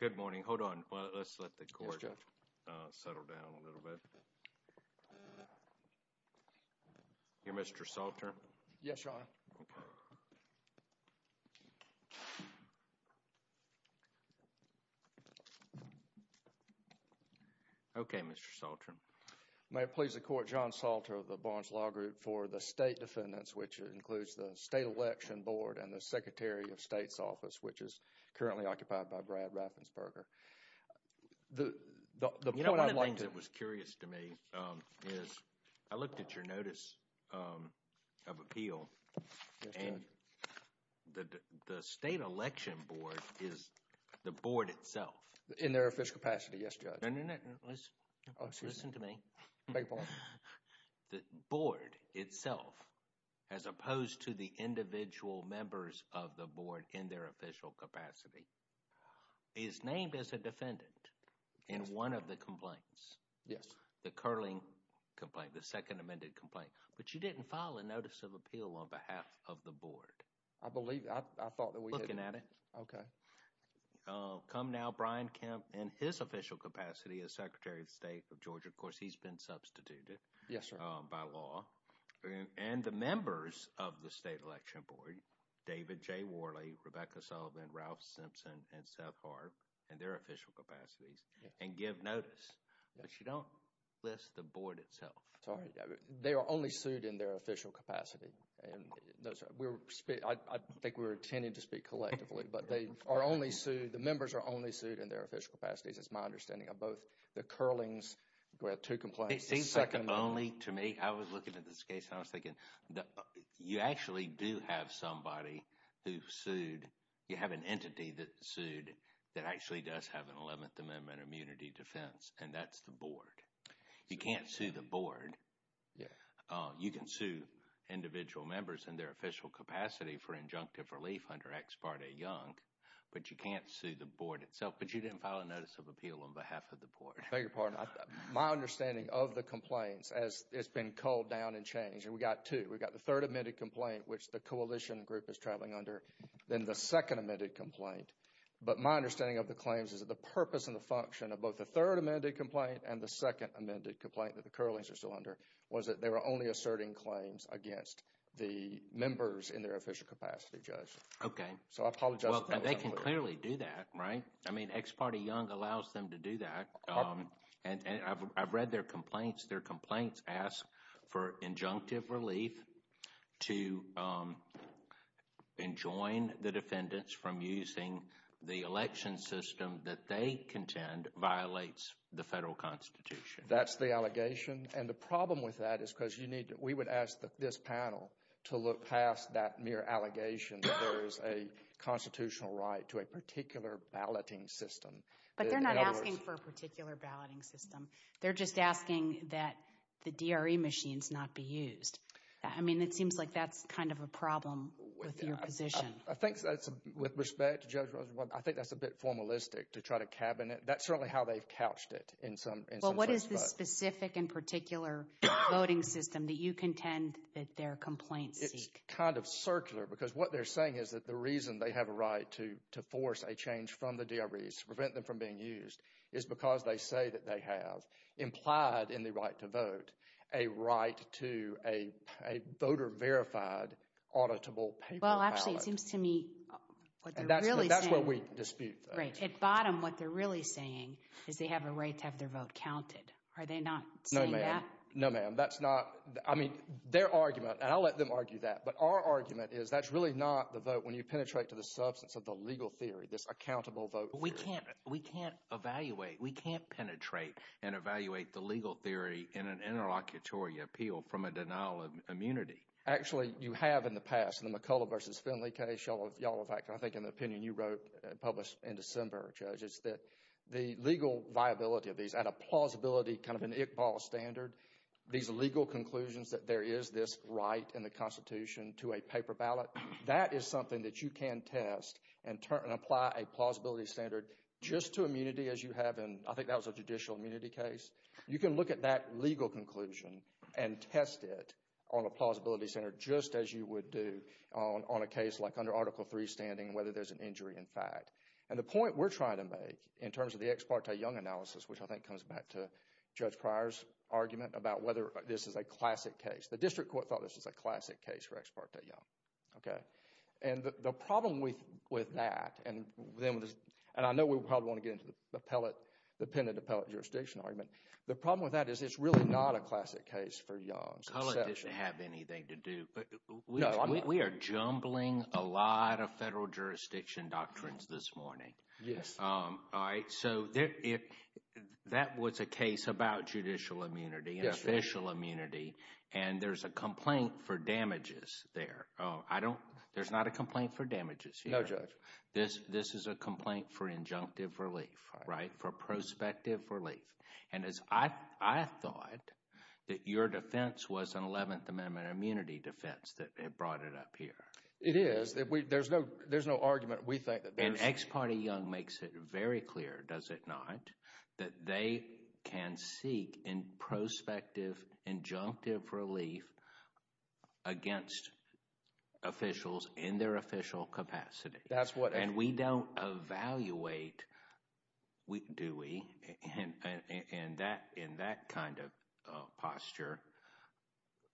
Good morning. Hold on. Let's let the court settle down a little bit. Mr. Salter? Yes, Your Honor. Okay, Mr. Salter. May it please the Court, John Salter of the Barnes Law Group for the State Defendants, which includes the State Election Board and the Secretary of State's Office, which is currently occupied by Brad Raffensperger. You know, one of the things that was curious to me is I looked at your Notice of Appeal and the State Election Board is the board itself. In their official capacity, yes, Judge. No, no, no, listen to me. The board itself, as opposed to the individual members of the board in their official capacity, is named as a defendant in one of the complaints, the Curling complaint, the second amended complaint, but you didn't file a Notice of Appeal on behalf of the board. I believe that. I thought that we did. Looking at it. Okay. Come now, Brian Kemp in his official capacity as Secretary of State of Georgia, of course, he's been substituted by law, and the members of the State Election Board, David J. Worley, Rebecca Sullivan, Ralph Simpson, and Seth Harp, in their official capacities, and give notice, but you don't list the board itself. Sorry. They are only sued in their official capacity, and I think we were intending to speak collectively, but they are only sued, the members are only sued in their official capacities is my understanding of both the Curling's, we have two complaints, the second one. It seems like only to me, I was looking at this case, and I was thinking, you actually do have somebody who sued, you have an entity that sued, that actually does have an 11th Amendment immunity defense, and that's the board. You can't sue the board. You can sue individual members in their official capacity for injunctive relief under ex parte yunk, but you can't sue the board itself, but you didn't file a notice of appeal on behalf of the board. I beg your pardon. My understanding of the complaints, as it's been culled down and changed, and we got two, we got the third amended complaint, which the coalition group is traveling under, then the second amended complaint, but my understanding of the claims is that the purpose and the function of both the third amended complaint and the second amended complaint that the Curlings are still under, was that they were only asserting claims against the members in their official capacity, Judge. Okay. So, I apologize. Well, they can clearly do that, right? I mean, ex parte yunk allows them to do that, and I've read their complaints. Their complaints ask for injunctive relief to enjoin the defendants from using the election system that they contend violates the federal Constitution. That's the allegation, and the problem with that is because you need, we would ask this panel to look past that mere allegation that there is a constitutional right to a particular balloting system. But they're not asking for a particular balloting system. They're just asking that the DRE machines not be used. I mean, it seems like that's kind of a problem with your position. I think that's, with respect to Judge Rosenblatt, I think that's a bit formalistic to try to cabinet. That's certainly how they've couched it in some instances. Is there a specific and particular voting system that you contend that their complaints seek? It's kind of circular, because what they're saying is that the reason they have a right to force a change from the DREs, to prevent them from being used, is because they say that they have implied in the right to vote a right to a voter-verified auditable paper ballot. Well, actually, it seems to me what they're really saying. That's what we dispute. Right. But at the very bottom, what they're really saying is they have a right to have their vote counted. Are they not saying that? No, ma'am. No, ma'am. That's not, I mean, their argument, and I'll let them argue that, but our argument is that's really not the vote when you penetrate to the substance of the legal theory, this accountable vote theory. But we can't, we can't evaluate, we can't penetrate and evaluate the legal theory in an interlocutory appeal from a denial of immunity. Actually, you have in the past, in the McCullough versus Finley case, y'all have acted, I think in the opinion you wrote, published in December, Judge, is that the legal viability of these at a plausibility, kind of an Iqbal standard, these legal conclusions that there is this right in the Constitution to a paper ballot, that is something that you can test and apply a plausibility standard just to immunity as you have in, I think that was a judicial immunity case. You can look at that legal conclusion and test it on a plausibility standard just as you would do on a case like under Article III standing, whether there's an injury in fact. And the point we're trying to make, in terms of the Ex Parte Young analysis, which I think comes back to Judge Pryor's argument about whether this is a classic case. The district court thought this was a classic case for Ex Parte Young, okay? And the problem with that, and then, and I know we probably want to get into the appellate, the penitent appellate jurisdiction argument. I don't want to have anything to do, but we are jumbling a lot of federal jurisdiction doctrines this morning, all right? So that was a case about judicial immunity and official immunity, and there's a complaint for damages there. There's not a complaint for damages here. No, Judge. This is a complaint for injunctive relief, right? For prospective relief. And I thought that your defense was an Eleventh Amendment immunity defense that brought it up here. It is. There's no argument. We think that there's... And Ex Parte Young makes it very clear, does it not, that they can seek in prospective injunctive relief against officials in their official capacity. That's what... In that kind of posture,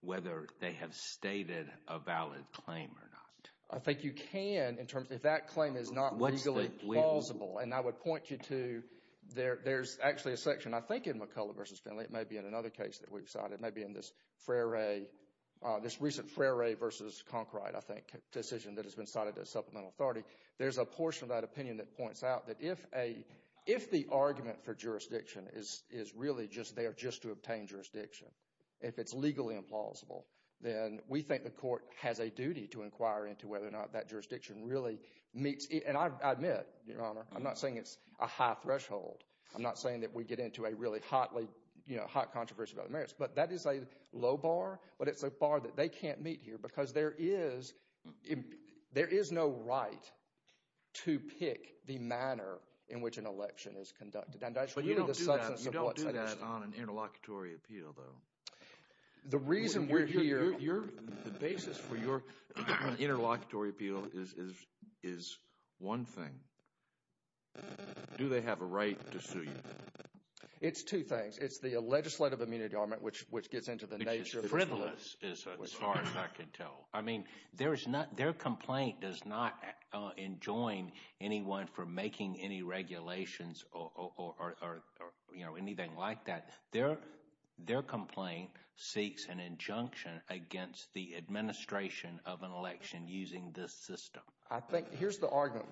whether they have stated a valid claim or not. I think you can, in terms of if that claim is not legally plausible, and I would point you to, there's actually a section, I think, in McCullough v. Finley, it may be in another case that we've cited. It may be in this recent Frere v. Conkright, I think, decision that has been cited as supplemental authority. There's a portion of that opinion that points out that if the argument for jurisdiction is really just there just to obtain jurisdiction, if it's legally implausible, then we think the court has a duty to inquire into whether or not that jurisdiction really meets... And I admit, Your Honor, I'm not saying it's a high threshold. I'm not saying that we get into a really hot controversy about the merits. But that is a low bar, but it's a bar that they can't meet here because there is no right to pick the manner in which an election is conducted. And that's really the substance of what's... But you don't do that on an interlocutory appeal, though. The reason we're here... The basis for your interlocutory appeal is one thing. Do they have a right to sue you? It's two things. It's the legislative amenity armament, which gets into the nature... Which is frivolous, as far as I can tell. I mean, their complaint does not enjoin anyone from making any regulations or anything like that. Their complaint seeks an injunction against the administration of an election using this system. I think... Here's the argument.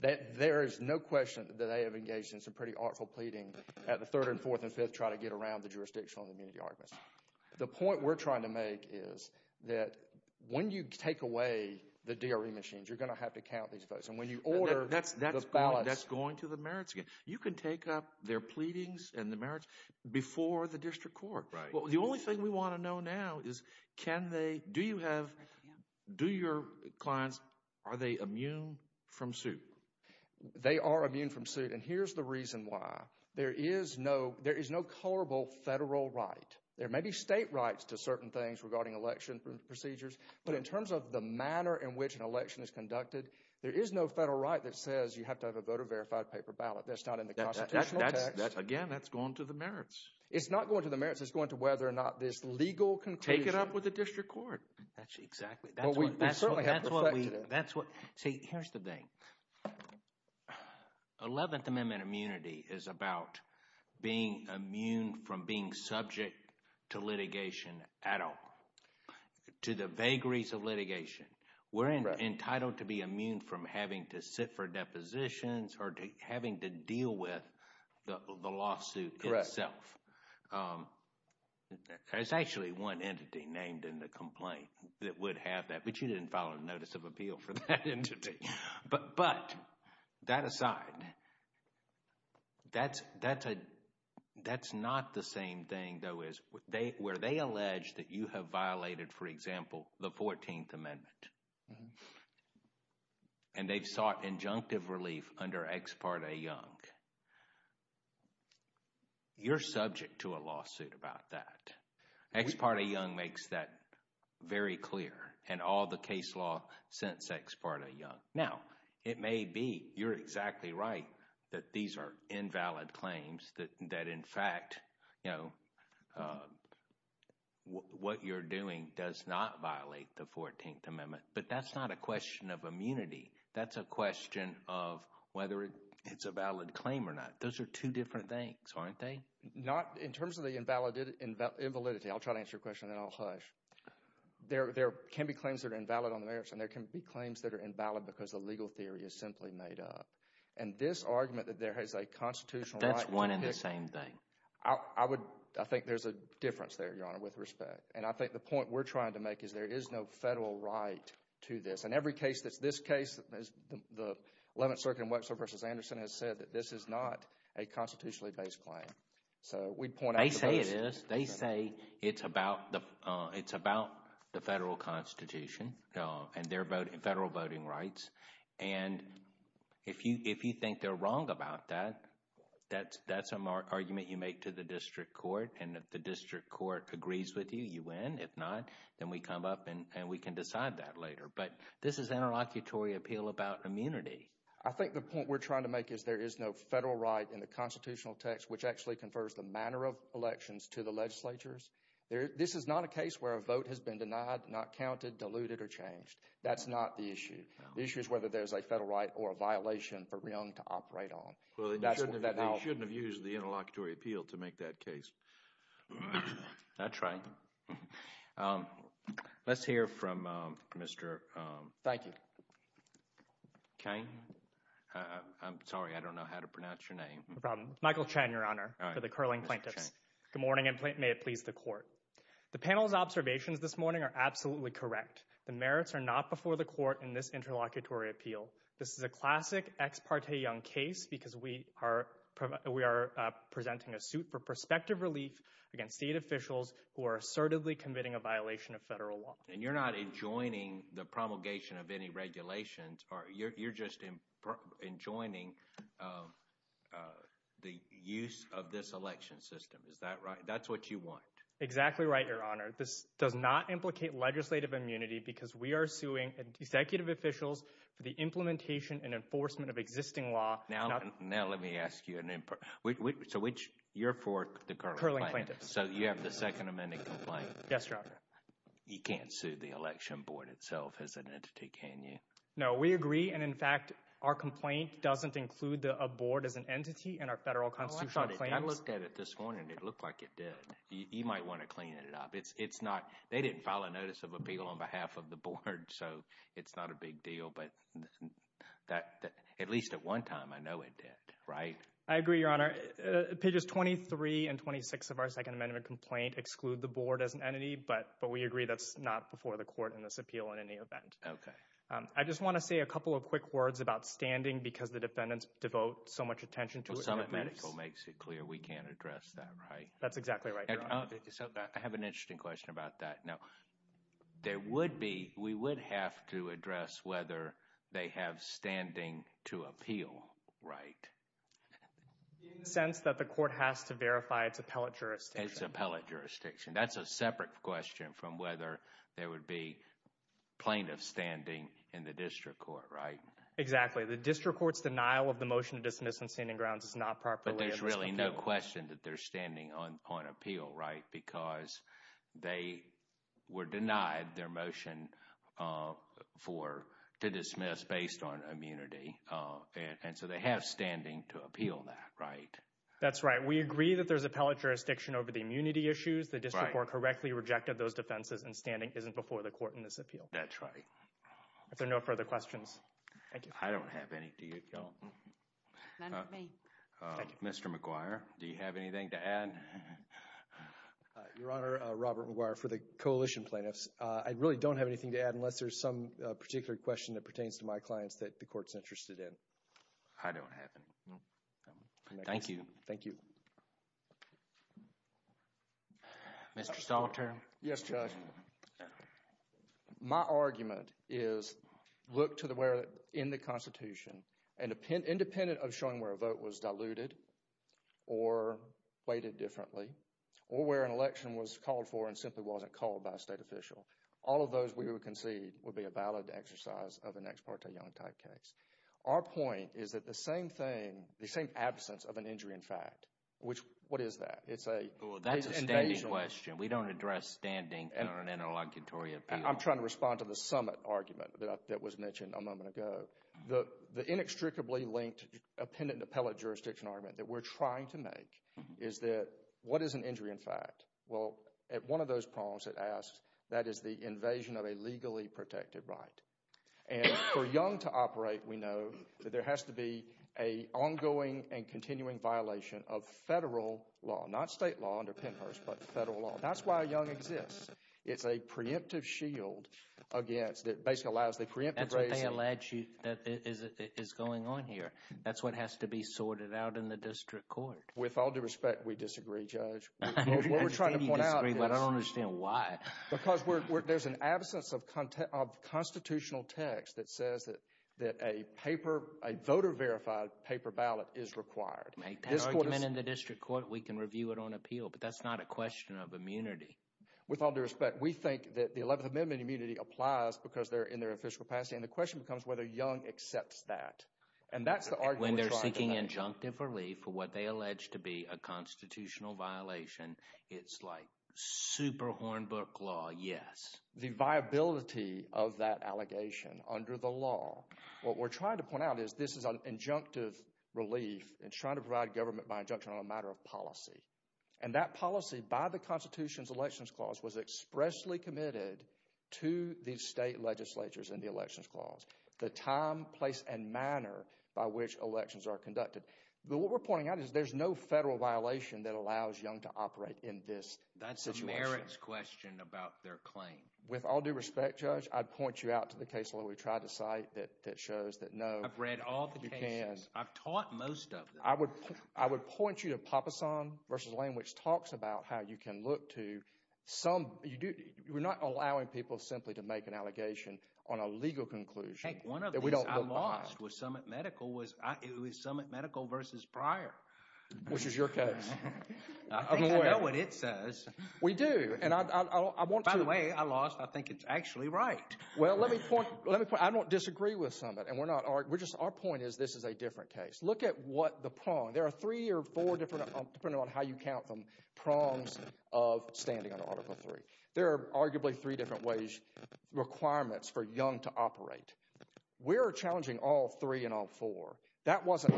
There is no question that they have engaged in some pretty artful pleading at the third and fourth and fifth to try to get around the jurisdictional amenity arguments. The point we're trying to make is that when you take away the DRE machines, you're going to have to count these votes. And when you order the ballots... That's going to the merits. You can take up their pleadings and the merits before the district court. The only thing we want to know now is can they... Do you have... Do your clients... Are they immune from suit? They are immune from suit. And here's the reason why. There is no colorable federal right. There may be state rights to certain things regarding election procedures, but in terms of the manner in which an election is conducted, there is no federal right that says you have to have a voter-verified paper ballot. That's not in the constitutional text. Again, that's going to the merits. It's not going to the merits. It's going to whether or not this legal conclusion... Take it up with the district court. Exactly. That's what... We certainly have to reflect to that. That's what... See, here's the thing. Eleventh Amendment immunity is about being immune from being subject to litigation at all. To the vagaries of litigation, we're entitled to be immune from having to sit for depositions or having to deal with the lawsuit itself. Correct. There's actually one entity named in the complaint that would have that, but you didn't file a notice of appeal for that entity. But, that aside, that's not the same thing, though, is where they allege that you have violated, for example, the Fourteenth Amendment, and they've sought injunctive relief under Ex parte Young, you're subject to a lawsuit about that. Ex parte Young makes that very clear, and all the case law since Ex parte Young. Now, it may be you're exactly right that these are invalid claims, that in fact, what you're doing does not violate the Fourteenth Amendment, but that's not a question of immunity. That's a question of whether it's a valid claim or not. Those are two different things, aren't they? In terms of the invalidity, I'll try to answer your question and then I'll hush. There can be claims that are invalid on the merits, and there can be claims that are invalid because the legal theory is simply made up, and this argument that there is a constitutional right to pick. That's one and the same thing. I think there's a difference there, Your Honor, with respect, and I think the point we're trying to make is there is no federal right to this, and every case that's this case, the Eleventh Circuit in Webster v. Anderson has said that this is not a constitutionally based claim. So, we'd point out the basis. They say it is. They say it's about the federal constitution and federal voting rights, and if you think they're wrong about that, that's an argument you make to the district court, and if the district court agrees with you, you win. If not, then we come up and we can decide that later, but this is an interlocutory appeal about immunity. I think the point we're trying to make is there is no federal right in the constitutional text, which actually confers the manner of elections to the legislatures. This is not a case where a vote has been denied, not counted, diluted, or changed. That's not the issue. The issue is whether there's a federal right or a violation for Reong to operate on. Well, then you shouldn't have used the interlocutory appeal to make that case. That's right. Let's hear from Mr. Kain. I'm sorry, I don't know how to pronounce your name. Michael Chen, Your Honor, for the Curling Plaintiffs. Good morning, and may it please the court. The panel's observations this morning are absolutely correct. The merits are not before the court in this interlocutory appeal. This is a classic ex parte young case because we are presenting a suit for prospective relief against state officials who are assertively committing a violation of federal law. And you're not enjoining the promulgation of any regulations, you're just enjoining the use of this election system. Is that right? That's what you want. Exactly right, Your Honor. This does not implicate legislative immunity because we are suing executive officials for the implementation and enforcement of existing law. Now let me ask you, you're for the Curling Plaintiffs, so you have the Second Amendment complaint. Yes, Your Honor. You can't sue the election board itself as an entity, can you? No, we agree, and in fact, our complaint doesn't include a board as an entity in our federal constitutional claims. I looked at it this morning, it looked like it did. You might want to clean it up. It's not, they didn't file a notice of appeal on behalf of the board, so it's not a big deal, but that, at least at one time, I know it did, right? I agree, Your Honor. Pages 23 and 26 of our Second Amendment complaint exclude the board as an entity, but we agree that's not before the court in this appeal in any event. I just want to say a couple of quick words about standing because the defendants devote so much attention to it. Well, some of it makes it clear we can't address that, right? That's exactly right, Your Honor. So, I have an interesting question about that. Now, there would be, we would have to address whether they have standing to appeal, right? In the sense that the court has to verify its appellate jurisdiction. Its appellate jurisdiction. That's a separate question from whether there would be plaintiff standing in the district court, right? Exactly. The district court's denial of the motion to dismiss on standing grounds is not properly But there's really no question that they're standing on appeal, right? Because they were denied their motion for, to dismiss based on immunity, and so they have standing to appeal that, right? That's right. We agree that there's appellate jurisdiction over the immunity issues. The district court correctly rejected those defenses and standing isn't before the court in this appeal. That's right. If there are no further questions. Thank you. I don't have any. Do you? No. None for me. Thank you. Mr. McGuire, do you have anything to add? Your Honor, Robert McGuire for the coalition plaintiffs. I really don't have anything to add unless there's some particular question that pertains to my clients that the court's interested in. I don't have any. Thank you. Thank you. Mr. Stolter. Yes, Judge. My argument is, look to where in the Constitution, independent of showing where a vote was diluted or weighted differently, or where an election was called for and simply wasn't called by a state official, all of those we would concede would be a valid exercise of an ex parte young type case. Our point is that the same thing, the same absence of an injury in fact, which, what is that? It's an invasion. That's a standing question. We don't address standing in an interlocutory appeal. I'm trying to respond to the summit argument that was mentioned a moment ago. The inextricably linked appendant and appellate jurisdiction argument that we're trying to make is that what is an injury in fact? Well, at one of those problems it asks, that is the invasion of a legally protected right. And for young to operate, we know that there has to be an ongoing and continuing violation of federal law. Not state law under Pennhurst, but federal law. That's why a young exists. It's a preemptive shield against, that basically allows the preemptive raising. That's what they allege that is going on here. That's what has to be sorted out in the district court. With all due respect, we disagree, Judge. What we're trying to point out is. I understand you disagree, but I don't understand why. Because there's an absence of constitutional text that says that a paper, a voter verified paper ballot is required. Make that argument in the district court. We can review it on appeal, but that's not a question of immunity. With all due respect, we think that the 11th Amendment immunity applies because they're in their official capacity. And the question becomes whether young accepts that. And that's the argument we're trying to make. When they're seeking injunctive relief for what they allege to be a constitutional violation, it's like super Hornbook law, yes. The viability of that allegation under the law. What we're trying to point out is this is an injunctive relief and trying to provide government by injunction on a matter of policy. And that policy by the Constitution's Elections Clause was expressly committed to the state legislatures in the Elections Clause, the time, place, and manner by which elections are conducted. But what we're pointing out is there's no federal violation that allows young to operate in this situation. That's a merits question about their claim. With all due respect, Judge, I'd point you out to the case law we tried to cite that shows that no. I've read all the cases. You can't. I've taught most of them. I would point you to Papasan v. Lane, which talks about how you can look to some, you do, we're not allowing people simply to make an allegation on a legal conclusion that we don't look behind. What I lost with Summit Medical was Summit Medical v. Pryor. Which is your case. I'm aware. I think I know what it says. We do. And I want to— By the way, I lost. I think it's actually right. Well, let me point, I don't disagree with Summit and we're not, we're just, our point is this is a different case. Look at what the prong. There are three or four different, depending on how you count them, prongs of standing on Article III. There are arguably three different ways, requirements for young to operate. We're challenging all three and all four. That wasn't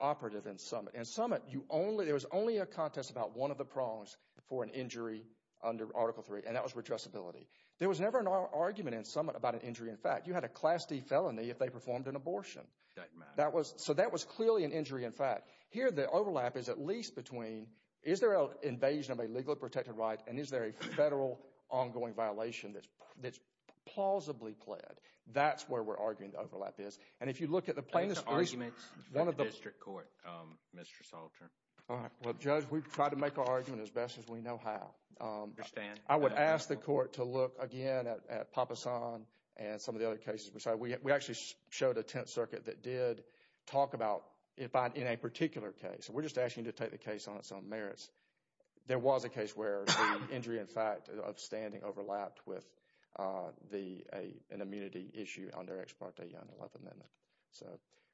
operative in Summit. In Summit, you only, there was only a contest about one of the prongs for an injury under Article III and that was redressability. There was never an argument in Summit about an injury in fact. You had a Class D felony if they performed an abortion. So that was clearly an injury in fact. Here the overlap is at least between, is there an invasion of a legally protected right and is there a federal ongoing violation that's plausibly pled. That's where we're arguing the overlap is. And if you look at the plainest, at least one of the- Make the arguments in the district court, Mr. Salter. All right. Well, Judge, we've tried to make our argument as best as we know how. I understand. I would ask the court to look again at Papasan and some of the other cases. We actually showed a Tenth Circuit that did talk about, in a particular case, and we're just asking you to take the case on its own merits. There was a case where the injury in fact of standing overlapped with an immunity issue under Ex parte Young and Love Amendment. So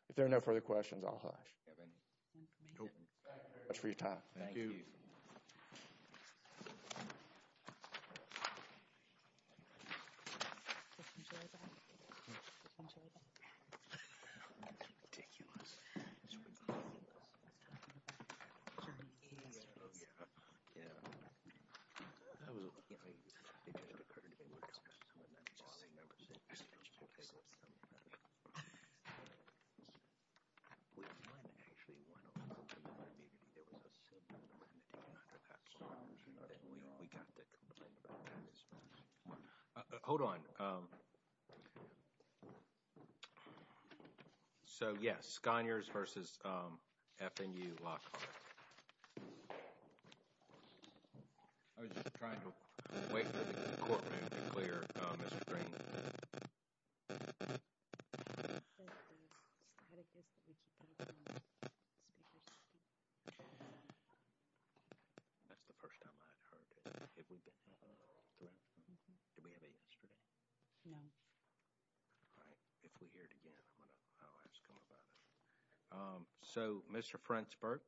if there are no further questions, I'll hush. Do you have any? Nope. Thank you very much for your time. Thank you. Thank you. Hold on. So yes. Sconyers versus FNU Lockhart. I was just trying to wait for the courtroom to clear Mr. Green. That's the first time I've heard it. If we didn't hear it. Do we have a yesterday? No. So Mr. Frentzberg.